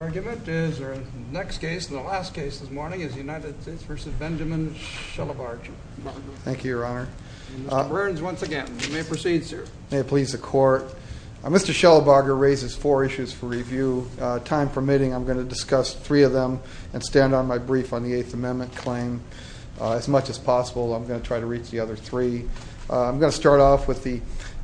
The next case and the last case this morning is United States v. Benjaman Shelabarger. Thank you, Your Honor. Mr. Burns, once again, you may proceed, sir. May it please the Court. Mr. Shelabarger raises four issues for review. Time permitting, I'm going to discuss three of them and stand on my brief on the Eighth Amendment claim. As much as possible, I'm going to try to reach the other three. I'm going to start off with the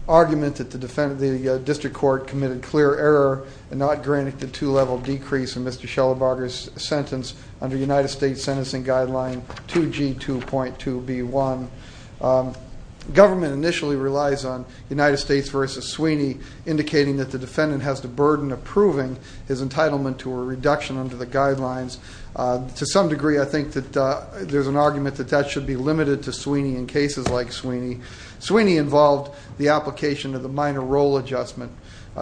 argument that the District Court committed clear error and not granted the two-level decrease in Mr. Shelabarger's sentence under United States Sentencing Guideline 2G2.2b.1. Government initially relies on United States v. Sweeney, indicating that the defendant has the burden of proving his entitlement to a reduction under the guidelines. To some degree, I think that there's an argument that that should be limited to Sweeney in cases like Sweeney. Sweeney involved the application of the minor role adjustment.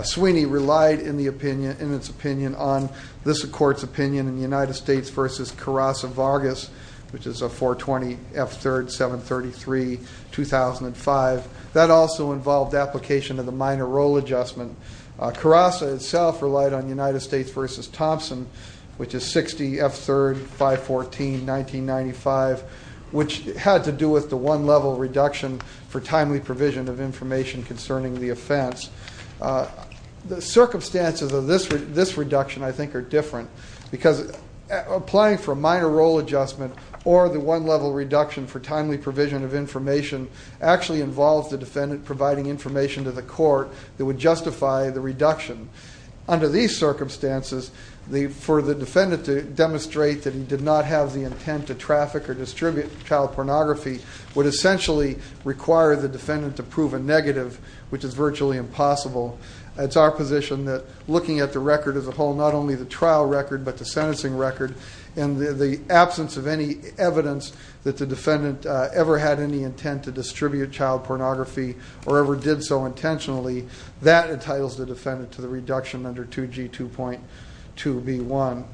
Sweeney relied, in its opinion, on this Court's opinion in United States v. Carrasa-Vargas, which is a 420 F3rd 733-2005. That also involved application of the minor role adjustment. Carrasa itself relied on United States v. Thompson, which is 60 F3rd 514-1995, which had to do with the one-level reduction for timely provision of information concerning the offense. The circumstances of this reduction, I think, are different because applying for a minor role adjustment or the one-level reduction for timely provision of information actually involves the defendant providing information to the court that would justify the reduction. Under these circumstances, for the defendant to demonstrate that he did not have the intent to traffic or distribute child pornography would essentially require the defendant to prove a negative, which is virtually impossible. It's our position that looking at the record as a whole, not only the trial record but the sentencing record, and the absence of any evidence that the defendant ever had any intent to distribute child pornography or ever did so intentionally, that entitles the defendant to the reduction under 2G2.2b1.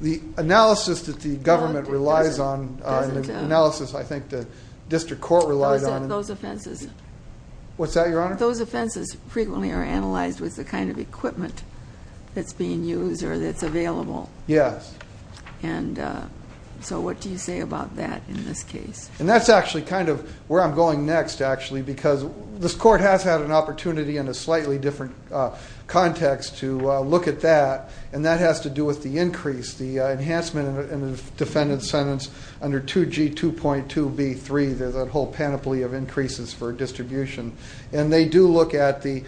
The analysis that the government relies on, the analysis I think the district court relied on... What's that, Your Honor? Those offenses frequently are analyzed with the kind of equipment that's being used or that's available. Yes. And so what do you say about that in this case? And that's actually kind of where I'm going next, actually, because this court has had an opportunity in a slightly different context to look at that, and that has to do with the increase, the enhancement in the defendant's sentence under 2G2.2b3. There's a whole panoply of increases for distribution. And they do look at the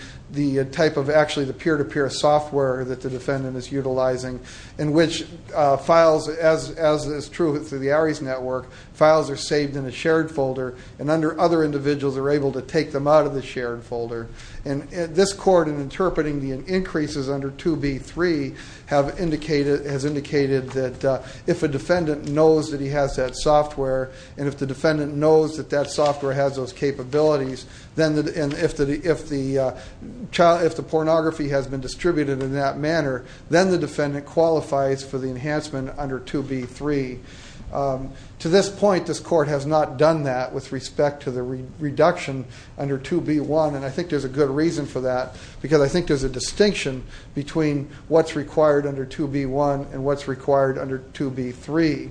type of actually the peer-to-peer software that the defendant is utilizing, in which files, as is true through the ARIES network, files are saved in a shared folder, and other individuals are able to take them out of the shared folder. And this court, in interpreting the increases under 2B3, has indicated that if a defendant knows that he has that software, and if the defendant knows that that software has those capabilities, and if the pornography has been distributed in that manner, then the defendant qualifies for the enhancement under 2B3. To this point, this court has not done that with respect to the reduction under 2B1, and I think there's a good reason for that, because I think there's a distinction between what's required under 2B1 and what's required under 2B3.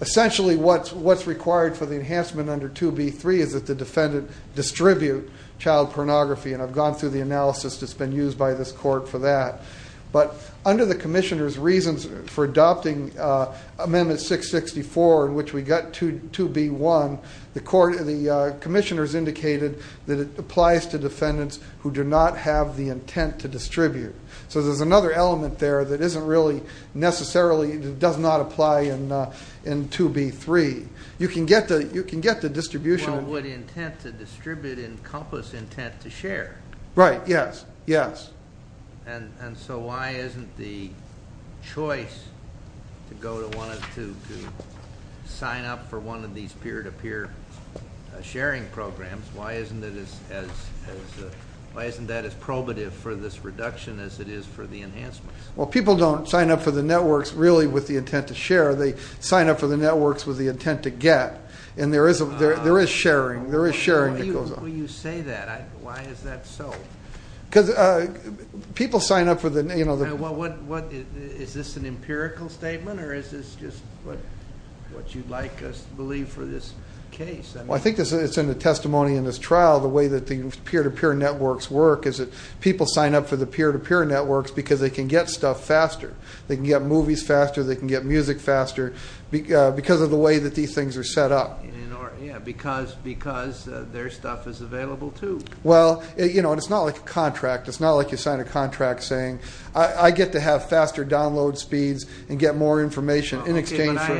Essentially, what's required for the enhancement under 2B3 is that the defendant distribute child pornography, and I've gone through the analysis that's been used by this court for that. But under the commissioner's reasons for adopting Amendment 664, in which we got 2B1, the commissioner's indicated that it applies to defendants who do not have the intent to distribute. So there's another element there that isn't really necessarily, does not apply in 2B3. You can get the distribution. Well, would intent to distribute encompass intent to share? Right, yes, yes. And so why isn't the choice to sign up for one of these peer-to-peer sharing programs, why isn't that as probative for this reduction as it is for the enhancements? Well, people don't sign up for the networks really with the intent to share. They sign up for the networks with the intent to get, and there is sharing. There is sharing that goes on. Why do you say that? Why is that so? Because people sign up for the- Is this an empirical statement, or is this just what you'd like us to believe for this case? Well, I think it's in the testimony in this trial the way that the peer-to-peer networks work is that people sign up for the peer-to-peer networks because they can get stuff faster. They can get movies faster. They can get music faster because of the way that these things are set up. Yeah, because their stuff is available too. Well, it's not like a contract. It's not like you sign a contract saying I get to have faster download speeds and get more information in exchange for-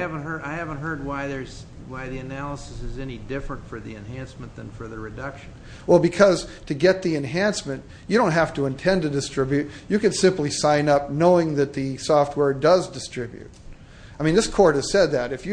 I haven't heard why the analysis is any different for the enhancement than for the reduction. Well, because to get the enhancement, you don't have to intend to distribute. You can simply sign up knowing that the software does distribute. I mean, this court has said that. If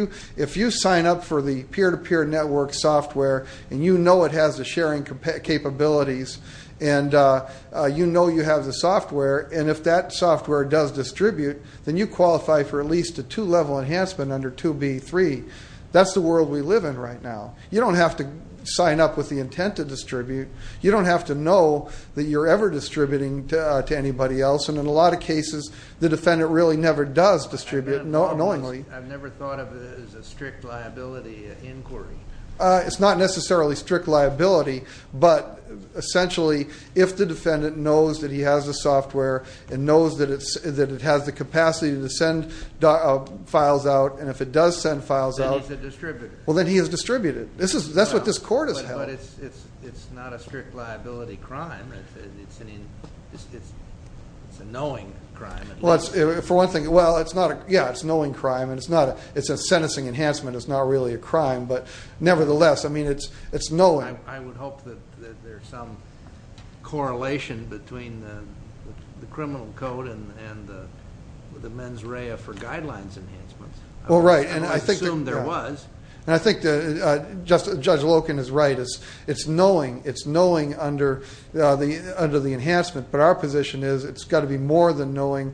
you sign up for the peer-to-peer network software and you know it has the sharing capabilities and you know you have the software, and if that software does distribute, then you qualify for at least a two-level enhancement under 2B3. That's the world we live in right now. You don't have to sign up with the intent to distribute. You don't have to know that you're ever distributing to anybody else, and in a lot of cases the defendant really never does distribute knowingly. I've never thought of it as a strict liability inquiry. It's not necessarily strict liability, but essentially if the defendant knows that he has the software and knows that it has the capacity to send files out, and if it does send files out- Then he's a distributor. Well, then he has distributed. That's what this court has held. But it's not a strict liability crime. It's a knowing crime. For one thing, yeah, it's a knowing crime, and it's a sentencing enhancement. It's not really a crime, but nevertheless, I mean, it's knowing. I would hope that there's some correlation between the criminal code and the mens rea for guidelines enhancements. I assume there was. I think Judge Loken is right. It's knowing. It's knowing under the enhancement. But our position is it's got to be more than knowing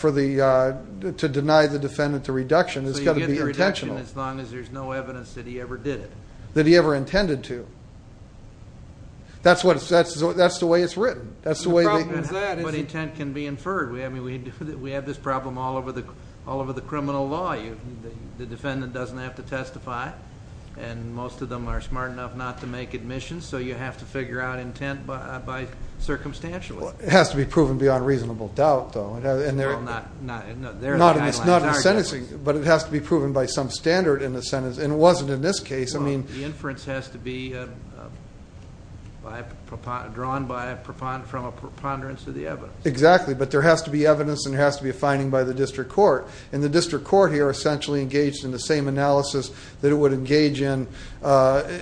to deny the defendant the reduction. It's got to be intentional. So you get the reduction as long as there's no evidence that he ever did it. That he ever intended to. That's the way it's written. The problem is that- But intent can be inferred. We have this problem all over the criminal law. The defendant doesn't have to testify, and most of them are smart enough not to make admissions, so you have to figure out intent by circumstantialism. It has to be proven beyond reasonable doubt, though. Well, not- It's not in sentencing, but it has to be proven by some standard in the sentence. And it wasn't in this case. Well, the inference has to be drawn from a preponderance of the evidence. Exactly. But there has to be evidence and there has to be a finding by the district court. And the district court here essentially engaged in the same analysis that it would engage in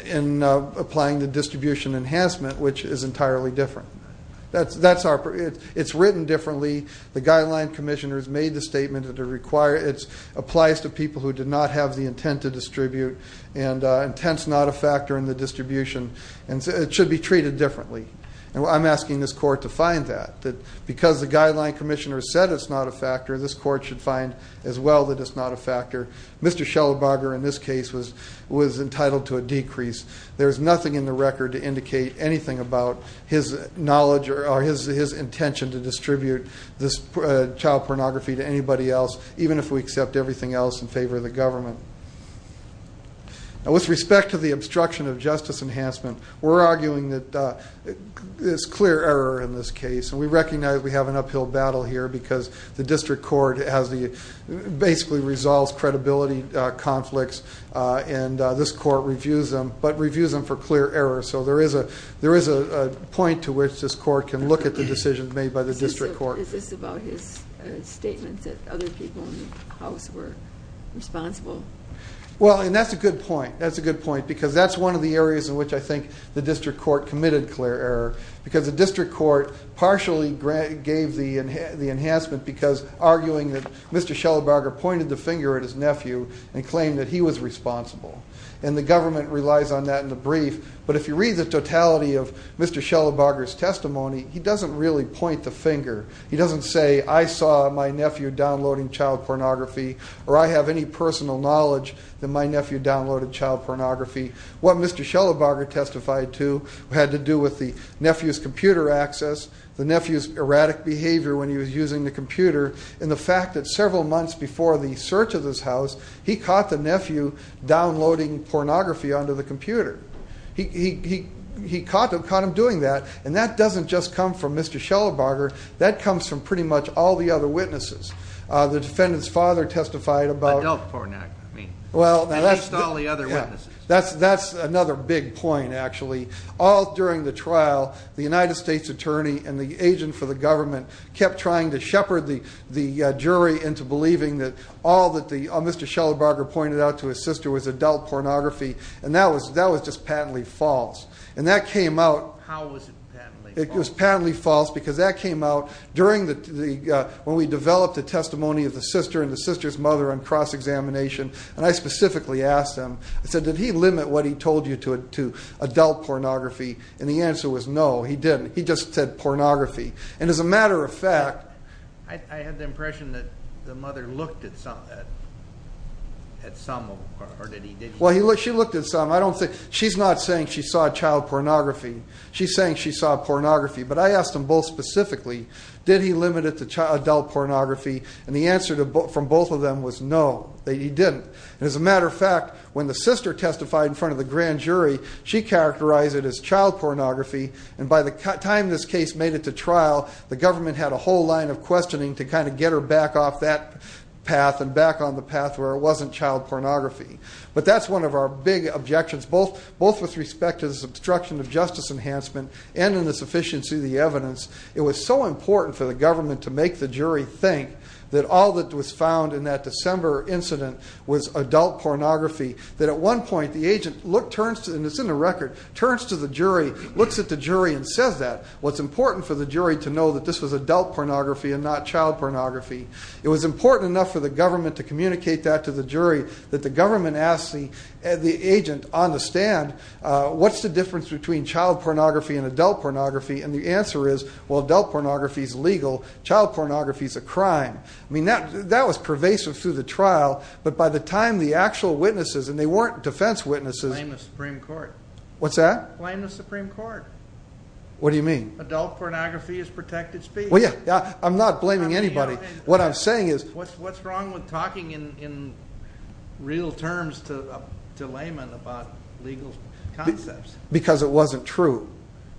in applying the distribution enhancement, which is entirely different. It's written differently. The guideline commissioner has made the statement that it applies to people who did not have the intent to distribute, and intent's not a factor in the distribution. It should be treated differently. I'm asking this court to find that. Because the guideline commissioner said it's not a factor, this court should find as well that it's not a factor. Mr. Schellenbarger in this case was entitled to a decrease. There is nothing in the record to indicate anything about his knowledge or his intention to distribute this child pornography to anybody else, even if we accept everything else in favor of the government. Now, with respect to the obstruction of justice enhancement, we're arguing that there's clear error in this case. And we recognize we have an uphill battle here because the district court basically resolves credibility conflicts, and this court reviews them, but reviews them for clear error. So there is a point to which this court can look at the decisions made by the district court. Is this about his statement that other people in the house were responsible? Well, and that's a good point. That's a good point because that's one of the areas in which I think the district court committed clear error because the district court partially gave the enhancement because arguing that Mr. Schellenbarger pointed the finger at his nephew and claimed that he was responsible. And the government relies on that in the brief. But if you read the totality of Mr. Schellenbarger's testimony, he doesn't really point the finger. He doesn't say, I saw my nephew downloading child pornography or I have any personal knowledge that my nephew downloaded child pornography. What Mr. Schellenbarger testified to had to do with the nephew's computer access, the nephew's erratic behavior when he was using the computer, and the fact that several months before the search of this house, he caught the nephew downloading pornography onto the computer. He caught him doing that, and that doesn't just come from Mr. Schellenbarger. That comes from pretty much all the other witnesses. The defendant's father testified about- Adult pornography, I mean. At least all the other witnesses. That's another big point, actually. All during the trial, the United States attorney and the agent for the government kept trying to shepherd the jury into believing that all that Mr. Schellenbarger pointed out to his sister was adult pornography, and that was just patently false. And that came out- How was it patently false? It was patently false because that came out during the- when we developed the testimony of the sister and the sister's mother on cross-examination, and I specifically asked him, I said, did he limit what he told you to adult pornography? And the answer was no, he didn't. He just said pornography. And as a matter of fact- I had the impression that the mother looked at some of it, or did he? Well, she looked at some. She's not saying she saw child pornography. She's saying she saw pornography. But I asked them both specifically, did he limit it to adult pornography? And the answer from both of them was no, he didn't. And as a matter of fact, when the sister testified in front of the grand jury, she characterized it as child pornography, and by the time this case made it to trial, the government had a whole line of questioning to kind of get her back off that path and back on the path where it wasn't child pornography. But that's one of our big objections, both with respect to this obstruction of justice enhancement and in the sufficiency of the evidence. It was so important for the government to make the jury think that all that was found in that December incident was adult pornography, that at one point the agent looked- and it's in the record- turns to the jury, looks at the jury, and says that. Well, it's important for the jury to know that this was adult pornography and not child pornography. It was important enough for the government to communicate that to the jury that the government asked the agent on the stand, what's the difference between child pornography and adult pornography? And the answer is, well, adult pornography is legal. Child pornography is a crime. I mean, that was pervasive through the trial. But by the time the actual witnesses, and they weren't defense witnesses- Blame the Supreme Court. What's that? Blame the Supreme Court. What do you mean? Adult pornography is protected speech. Well, yeah, I'm not blaming anybody. What I'm saying is- What's wrong with talking in real terms to laymen about legal concepts? Because it wasn't true.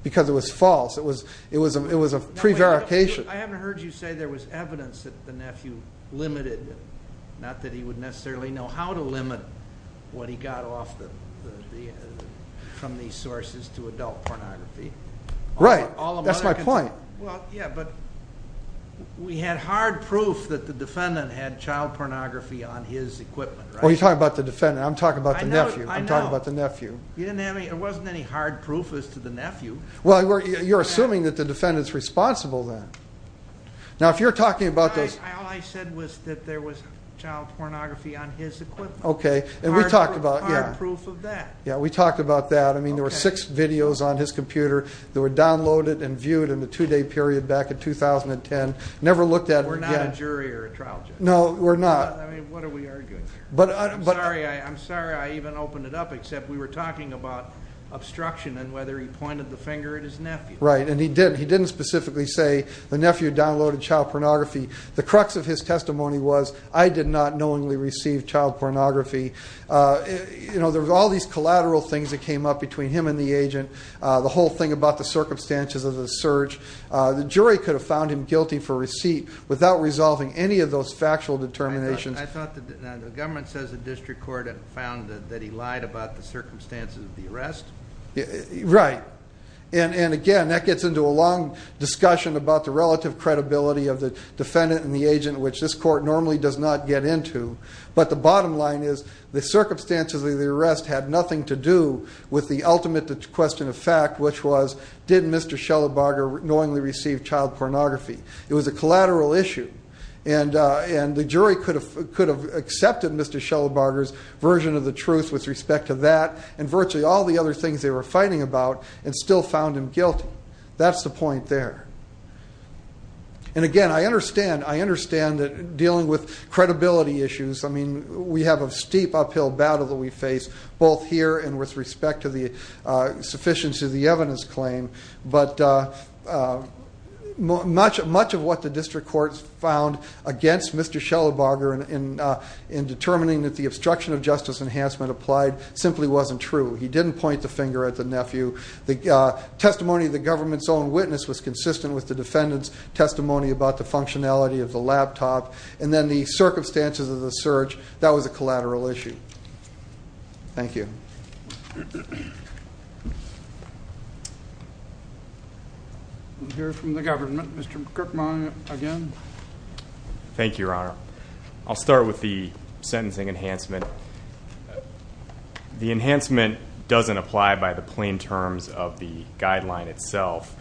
Because it was false. It was a prevarication. I haven't heard you say there was evidence that the nephew limited, not that he would necessarily know how to limit what he got off from these sources to adult pornography. Right. That's my point. Well, yeah, but we had hard proof that the defendant had child pornography on his equipment, right? Well, you're talking about the defendant. I'm talking about the nephew. I know. I'm talking about the nephew. There wasn't any hard proof as to the nephew. Well, you're assuming that the defendant's responsible then. Now, if you're talking about those- All I said was that there was child pornography on his equipment. Okay. And we talked about- Hard proof of that. Yeah, we talked about that. I mean, there were six videos on his computer that were downloaded and viewed in a two-day period back in 2010. Never looked at them again. We're not a jury or a trial judge. No, we're not. I mean, what are we arguing here? I'm sorry I even opened it up, except we were talking about obstruction and whether he pointed the finger at his nephew. Right, and he didn't. He didn't specifically say the nephew downloaded child pornography. The crux of his testimony was, I did not knowingly receive child pornography. You know, there were all these collateral things that came up between him and the agent, the whole thing about the circumstances of the search. The jury could have found him guilty for receipt without resolving any of those factual determinations. I thought the government says the district court had found that he lied about the circumstances of the arrest. Right. And, again, that gets into a long discussion about the relative credibility of the defendant and the agent, which this court normally does not get into. But the bottom line is the circumstances of the arrest had nothing to do with the ultimate question of fact, which was, did Mr. Schellabarger knowingly receive child pornography? It was a collateral issue. And the jury could have accepted Mr. Schellabarger's version of the truth with respect to that and virtually all the other things they were fighting about and still found him guilty. That's the point there. And, again, I understand dealing with credibility issues. I mean, we have a steep uphill battle that we face both here and with respect to the sufficiency of the evidence claim. But much of what the district courts found against Mr. Schellabarger in determining that the obstruction of justice enhancement applied simply wasn't true. He didn't point the finger at the nephew. The testimony of the government's own witness was consistent with the defendant's testimony about the functionality of the laptop. And then the circumstances of the search, that was a collateral issue. Thank you. We'll hear from the government. Mr. Kirkman, again. Thank you, Your Honor. I'll start with the sentencing enhancement. The enhancement doesn't apply by the plain terms of the guideline itself.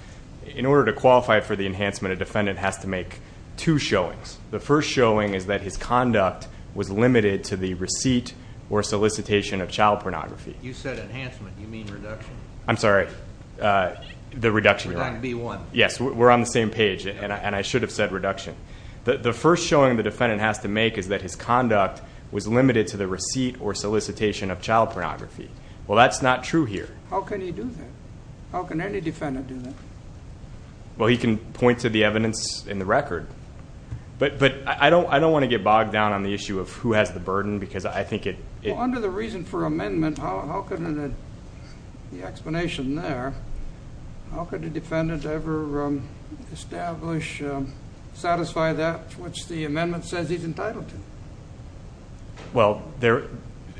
In order to qualify for the enhancement, a defendant has to make two showings. The first showing is that his conduct was limited to the receipt or solicitation of child pornography. You said enhancement. You mean reduction. I'm sorry. The reduction, Your Honor. We're talking B-1. Yes, we're on the same page, and I should have said reduction. The first showing the defendant has to make is that his conduct was limited to the receipt or solicitation of child pornography. Well, that's not true here. How can he do that? How can any defendant do that? Well, he can point to the evidence in the record. But I don't want to get bogged down on the issue of who has the burden because I think it… Well, under the reason for amendment, how could the explanation there, how could a defendant ever establish, satisfy that which the amendment says he's entitled to? Well,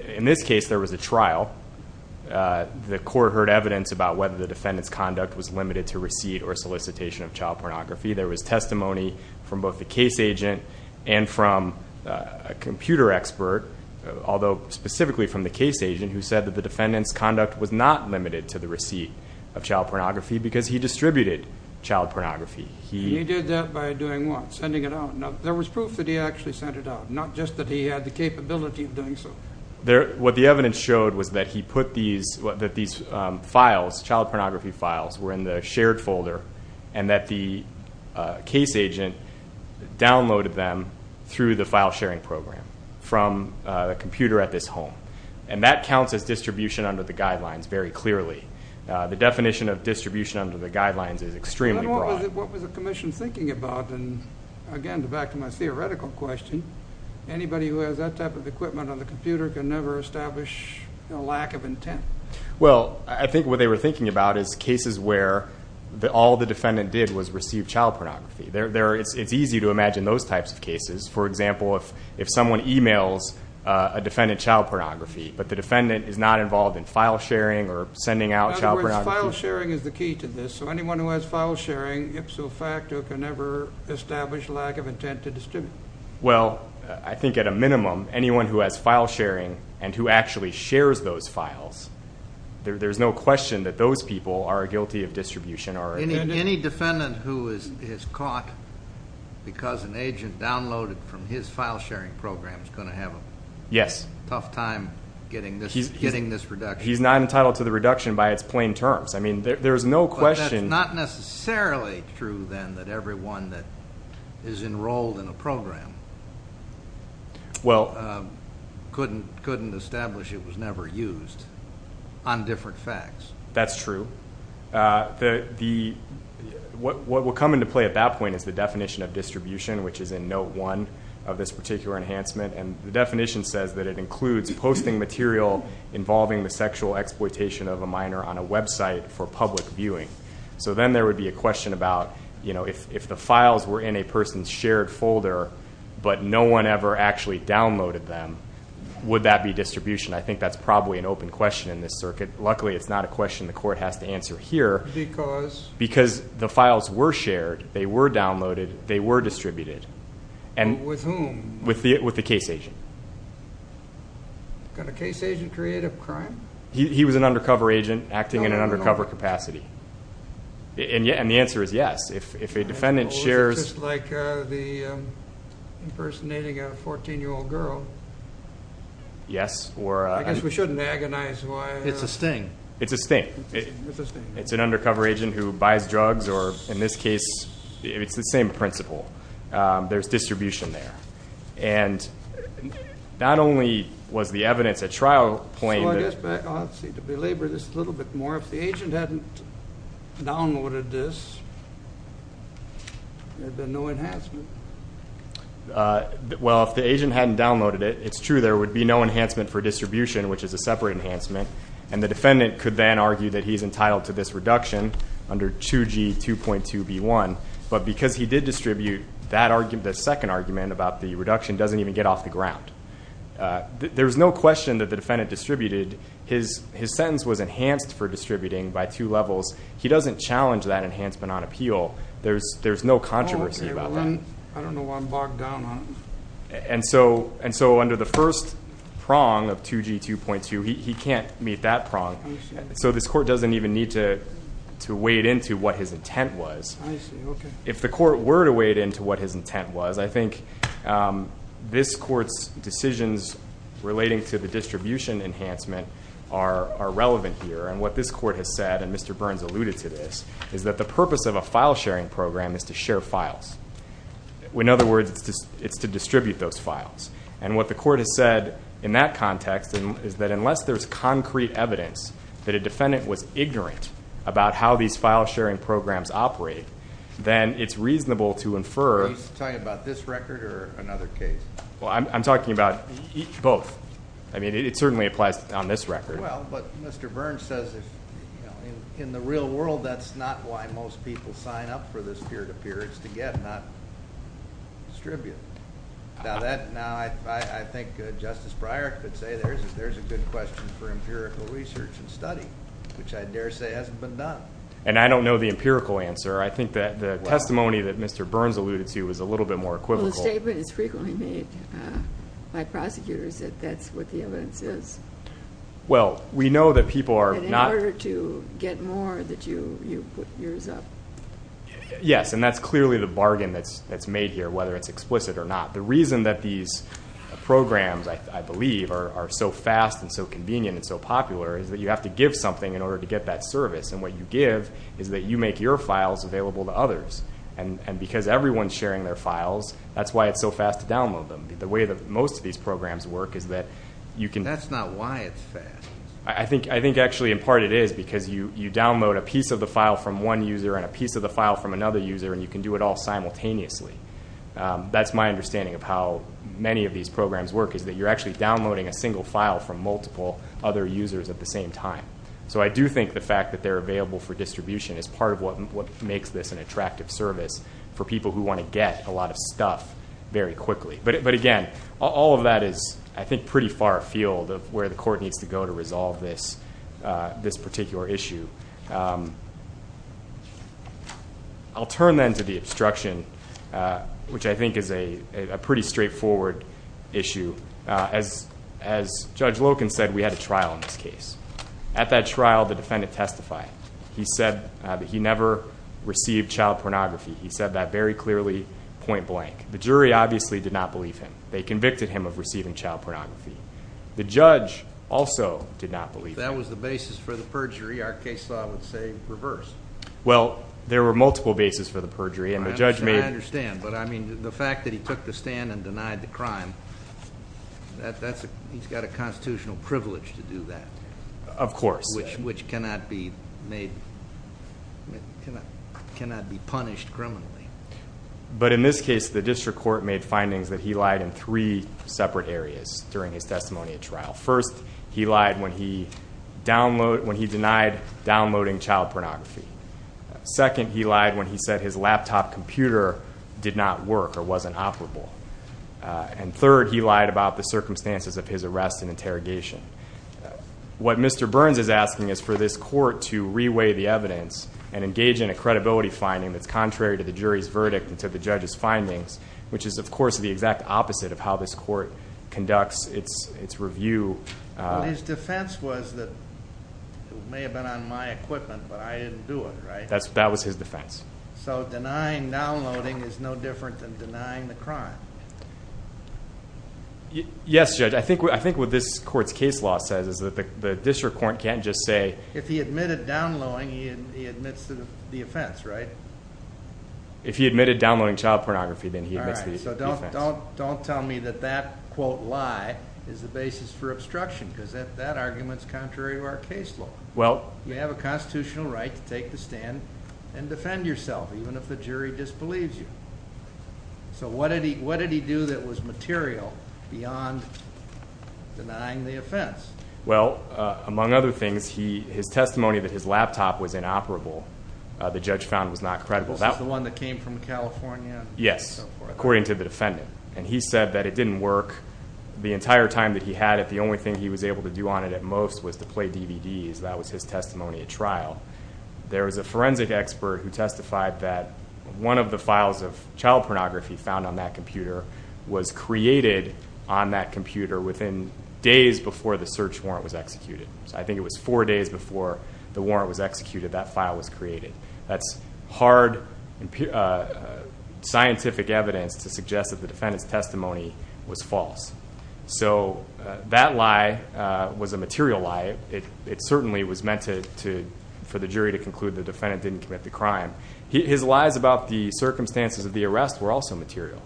in this case, there was a trial. The court heard evidence about whether the defendant's conduct was limited to receipt or solicitation of child pornography. There was testimony from both the case agent and from a computer expert, although specifically from the case agent, who said that the defendant's conduct was not limited to the receipt of child pornography because he distributed child pornography. He did that by doing what? Sending it out. There was proof that he actually sent it out, not just that he had the capability of doing so. What the evidence showed was that he put these files, child pornography files were in the shared folder, and that the case agent downloaded them through the file sharing program from the computer at this home. And that counts as distribution under the guidelines very clearly. The definition of distribution under the guidelines is extremely broad. What was the commission thinking about? And again, back to my theoretical question, anybody who has that type of equipment on the computer can never establish a lack of intent. Well, I think what they were thinking about is cases where all the defendant did was receive child pornography. It's easy to imagine those types of cases. For example, if someone emails a defendant child pornography, but the defendant is not involved in file sharing or sending out child pornography. In other words, file sharing is the key to this. So anyone who has file sharing, ipso facto can never establish lack of intent to distribute. Well, I think at a minimum, anyone who has file sharing and who actually shares those files, there's no question that those people are guilty of distribution. Any defendant who is caught because an agent downloaded from his file sharing program is going to have a tough time getting this reduction. He's not entitled to the reduction by its plain terms. I mean, there's no question. But that's not necessarily true then that everyone that is enrolled in a program couldn't establish it was never used on different facts. That's true. What will come into play at that point is the definition of distribution, which is in note one of this particular enhancement. And the definition says that it includes posting material involving the So then there would be a question about, you know, if the files were in a person's shared folder, but no one ever actually downloaded them, would that be distribution? I think that's probably an open question in this circuit. Luckily it's not a question the court has to answer here because the files were shared, they were downloaded, they were distributed. With whom? With the case agent. Can a case agent create a crime? He was an undercover agent acting in an undercover capacity. And the answer is yes. If a defendant shares. It's just like impersonating a 14-year-old girl. Yes. I guess we shouldn't agonize why. It's a sting. It's a sting. It's a sting. It's an undercover agent who buys drugs or, in this case, it's the same principle. There's distribution there. Not only was the evidence at trial plain. To belabor this a little bit more, if the agent hadn't downloaded this, there'd be no enhancement. Well, if the agent hadn't downloaded it, it's true, there would be no enhancement for distribution, which is a separate enhancement. And the defendant could then argue that he's entitled to this reduction under 2G 2.2B1. But because he did distribute that argument, the second argument about the reduction doesn't even get off the ground. There's no question that the defendant distributed. His sentence was enhanced for distributing by two levels. He doesn't challenge that enhancement on appeal. There's no controversy about that. I don't know why I'm bogged down on it. And so under the first prong of 2G 2.2, he can't meet that prong. So this court doesn't even need to wade into what his intent was. If the court were to wade into what his intent was, I think this court's decisions relating to the distribution enhancement are relevant here. And what this court has said, and Mr. Burns alluded to this, is that the purpose of a file-sharing program is to share files. In other words, it's to distribute those files. And what the court has said in that context is that unless there's concrete evidence that a defendant was ignorant about how these file-sharing programs operate, then it's reasonable to infer. Are you talking about this record or another case? Well, I'm talking about both. I mean, it certainly applies on this record. Well, but Mr. Burns says in the real world, that's not why most people sign up for this peer-to-peer. It's to get, not distribute. Now, I think Justice Breyer could say there's a good question for empirical research and study, which I dare say hasn't been done. And I don't know the empirical answer. I think that the testimony that Mr. Burns alluded to is a little bit more equivocal. Well, the statement is frequently made by prosecutors that that's what the evidence is. Well, we know that people are not... In order to get more, that you put yours up. Yes, and that's clearly the bargain that's made here, whether it's explicit or not. The reason that these programs, I believe, are so fast and so convenient and so popular is that you have to give something in order to get that service. And what you give is that you make your files available to others. And because everyone's sharing their files, that's why it's so fast to download them. The way that most of these programs work is that you can... That's not why it's fast. I think actually in part it is because you download a piece of the file from one user and a piece of the file from another user, and you can do it all simultaneously. That's my understanding of how many of these programs work, is that you're actually downloading a single file from multiple other users at the same time. So I do think the fact that they're available for distribution is part of what makes this an attractive service for people who want to get a lot of stuff very quickly. But again, all of that is, I think, pretty far afield of where the court needs to go to resolve this particular issue. I'll turn then to the obstruction, which I think is a pretty straightforward issue. As Judge Loken said, we had a trial in this case. At that trial, the defendant testified. He said that he never received child pornography. He said that very clearly, point blank. The jury obviously did not believe him. They convicted him of receiving child pornography. The judge also did not believe him. If that was the basis for the perjury, our case law would say reverse. Well, there were multiple bases for the perjury. I understand, but the fact that he took the stand and denied the crime, he's got a constitutional privilege to do that. Of course. Which cannot be punished criminally. But in this case, the district court made findings that he lied in three separate areas during his testimony at trial. First, he lied when he denied downloading child pornography. Second, he lied when he said his laptop computer did not work or wasn't operable. And third, he lied about the circumstances of his arrest and interrogation. What Mr. Burns is asking is for this court to reweigh the evidence and engage in a credibility finding that's contrary to the jury's verdict and to the judge's findings, which is, of course, the exact opposite of how this court conducts its review. His defense was that it may have been on my equipment, but I didn't do it, right? That was his defense. So denying downloading is no different than denying the crime? Yes, Judge. I think what this court's case law says is that the district court can't just say— If he admitted downloading, he admits the offense, right? If he admitted downloading child pornography, then he admits the offense. All right, so don't tell me that that, quote, lie is the basis for obstruction because that argument is contrary to our case law. Well— You have a constitutional right to take the stand and defend yourself, even if the jury disbelieves you. So what did he do that was material beyond denying the offense? Well, among other things, his testimony that his laptop was inoperable, the judge found was not credible. This is the one that came from California? Yes, according to the defendant. And he said that it didn't work. The entire time that he had it, the only thing he was able to do on it at most was to play DVDs. That was his testimony at trial. There was a forensic expert who testified that one of the files of child pornography found on that computer was created on that computer within days before the search warrant was executed. So I think it was four days before the warrant was executed, that file was created. That's hard scientific evidence to suggest that the defendant's testimony was false. So that lie was a material lie. It certainly was meant for the jury to conclude the defendant didn't commit the crime. His lies about the circumstances of the arrest were also material.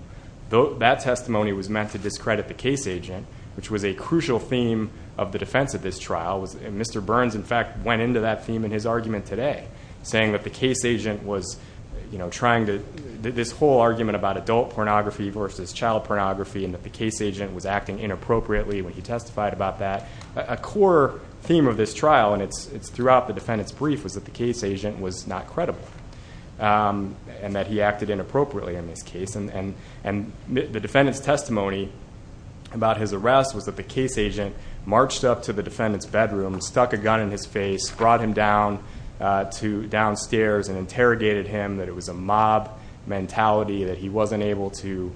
That testimony was meant to discredit the case agent, which was a crucial theme of the defense of this trial. Mr. Burns, in fact, went into that theme in his argument today, saying that the case agent was trying to this whole argument about adult pornography versus child pornography and that the case agent was acting inappropriately when he testified about that. A core theme of this trial, and it's throughout the defendant's brief, was that the case agent was not credible and that he acted inappropriately in this case. The defendant's testimony about his arrest was that the case agent marched up to the defendant's bedroom, stuck a gun in his face, brought him downstairs and interrogated him, that it was a mob mentality, that he wasn't able to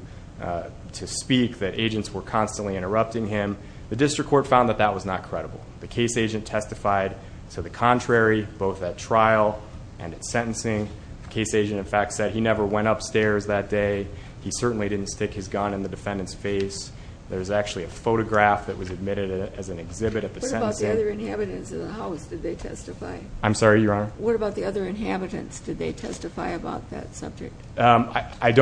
speak, that agents were constantly interrupting him. The district court found that that was not credible. The case agent testified to the contrary both at trial and at sentencing. The case agent, in fact, said he never went upstairs that day. He certainly didn't stick his gun in the defendant's face. There's actually a photograph that was admitted as an exhibit at the sentencing. What about the other inhabitants of the house did they testify? I'm sorry, Your Honor? What about the other inhabitants? Did they testify about that subject? I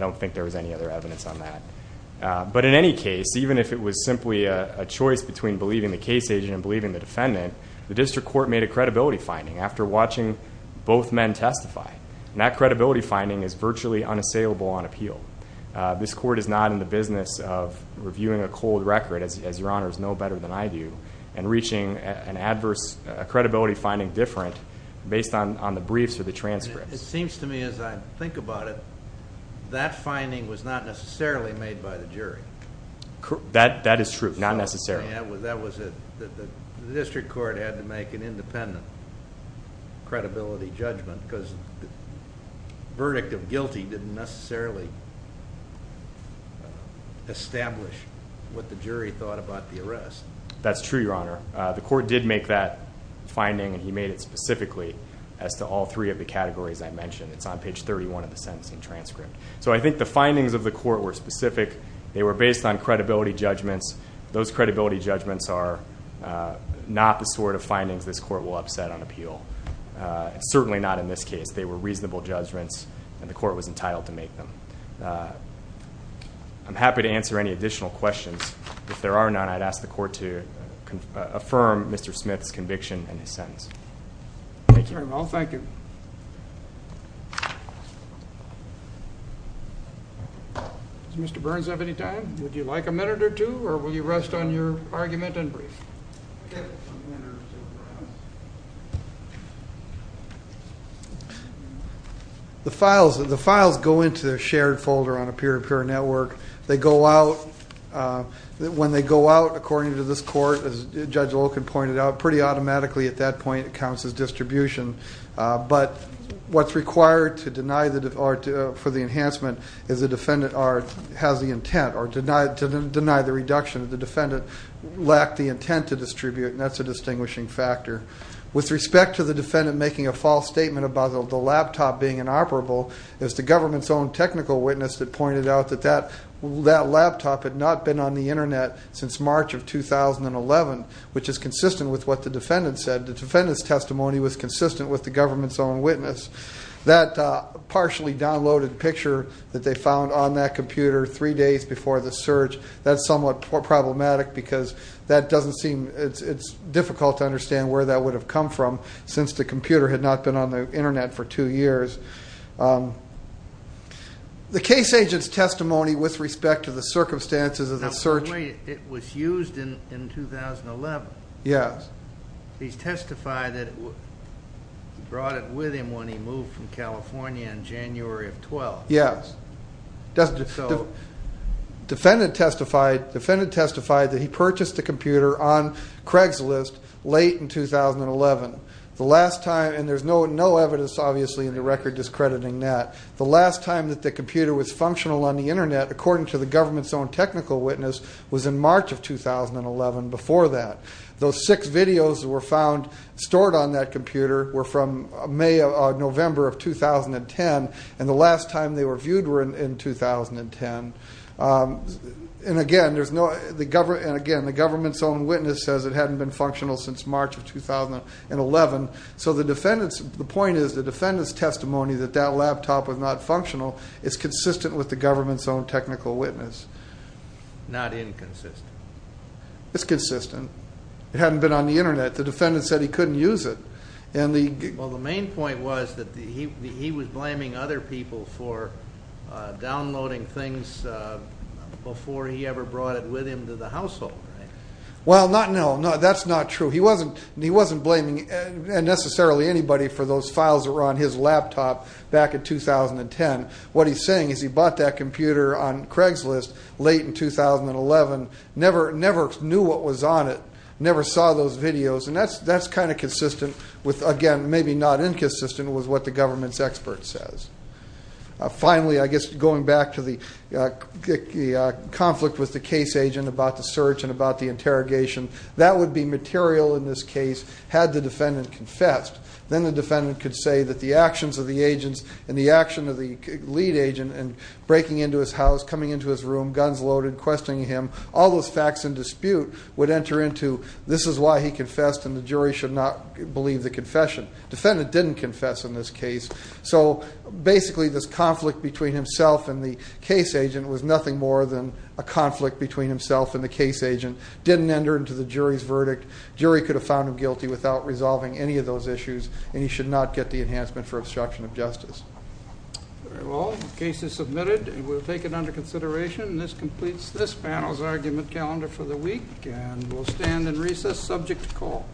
don't think there was any other evidence on that. But in any case, even if it was simply a choice between believing the case agent and believing the defendant, the district court made a credibility finding after watching both men testify. That credibility finding is virtually unassailable on appeal. This court is not in the business of reviewing a cold record, as Your Honors know better than I do, and reaching an adverse credibility finding different based on the briefs or the transcripts. It seems to me as I think about it, that finding was not necessarily made by the jury. That is true, not necessarily. The district court had to make an independent credibility judgment because the verdict of guilty didn't necessarily establish what the jury thought about the arrest. That's true, Your Honor. The court did make that finding, and he made it specifically as to all three of the categories I mentioned. It's on page 31 of the sentencing transcript. So I think the findings of the court were specific. They were based on credibility judgments. Those credibility judgments are not the sort of findings this court will upset on appeal, certainly not in this case. They were reasonable judgments, and the court was entitled to make them. I'm happy to answer any additional questions. If there are none, I'd ask the court to affirm Mr. Smith's conviction in his sentence. Thank you very much. Thank you. Does Mr. Burns have any time? Would you like a minute or two, or will you rest on your argument and brief? The files go into a shared folder on a peer-to-peer network. When they go out, according to this court, as Judge Loken pointed out, pretty automatically at that point it counts as distribution. But what's required for the enhancement is the defendant has the intent or to deny the reduction if the defendant lacked the intent to distribute, and that's a distinguishing factor. With respect to the defendant making a false statement about the laptop being inoperable, it was the government's own technical witness that pointed out that that laptop had not been on the Internet since March of 2011, which is consistent with what the defendant said. The defendant's testimony was consistent with the government's own witness. That partially downloaded picture that they found on that computer three days before the search, that's somewhat problematic because it's difficult to understand where that would have come from since the computer had not been on the Internet for two years. The case agent's testimony with respect to the circumstances of the search. It was used in 2011. Yes. He testified that he brought it with him when he moved from California in January of 2012. Yes. Defendant testified that he purchased the computer on Craigslist late in 2011. And there's no evidence, obviously, in the record discrediting that. The last time that the computer was functional on the Internet, according to the government's own technical witness, was in March of 2011, before that. Those six videos that were stored on that computer were from May or November of 2010, and the last time they were viewed were in 2010. And again, the government's own witness says it hadn't been functional since March of 2011. So the point is the defendant's testimony that that laptop was not functional is consistent with the government's own technical witness. Not inconsistent. It's consistent. It hadn't been on the Internet. The defendant said he couldn't use it. Well, the main point was that he was blaming other people for downloading things before he ever brought it with him to the household, right? Well, no, that's not true. He wasn't blaming necessarily anybody for those files that were on his laptop back in 2010. What he's saying is he bought that computer on Craigslist late in 2011, never knew what was on it, never saw those videos, and that's kind of consistent with, again, maybe not inconsistent with what the government's expert says. Finally, I guess going back to the conflict with the case agent about the search and about the interrogation, that would be material in this case had the defendant confessed. Then the defendant could say that the actions of the agents and the action of the lead agent in breaking into his house, coming into his room, guns loaded, questioning him, all those facts in dispute, would enter into, this is why he confessed, and the jury should not believe the confession. Defendant didn't confess in this case. So basically this conflict between himself and the case agent was nothing more than a conflict between himself and the case agent. Didn't enter into the jury's verdict. Jury could have found him guilty without resolving any of those issues, and he should not get the enhancement for obstruction of justice. Well, the case is submitted, and we'll take it under consideration. This completes this panel's argument calendar for the week, and we'll stand in recess subject to call.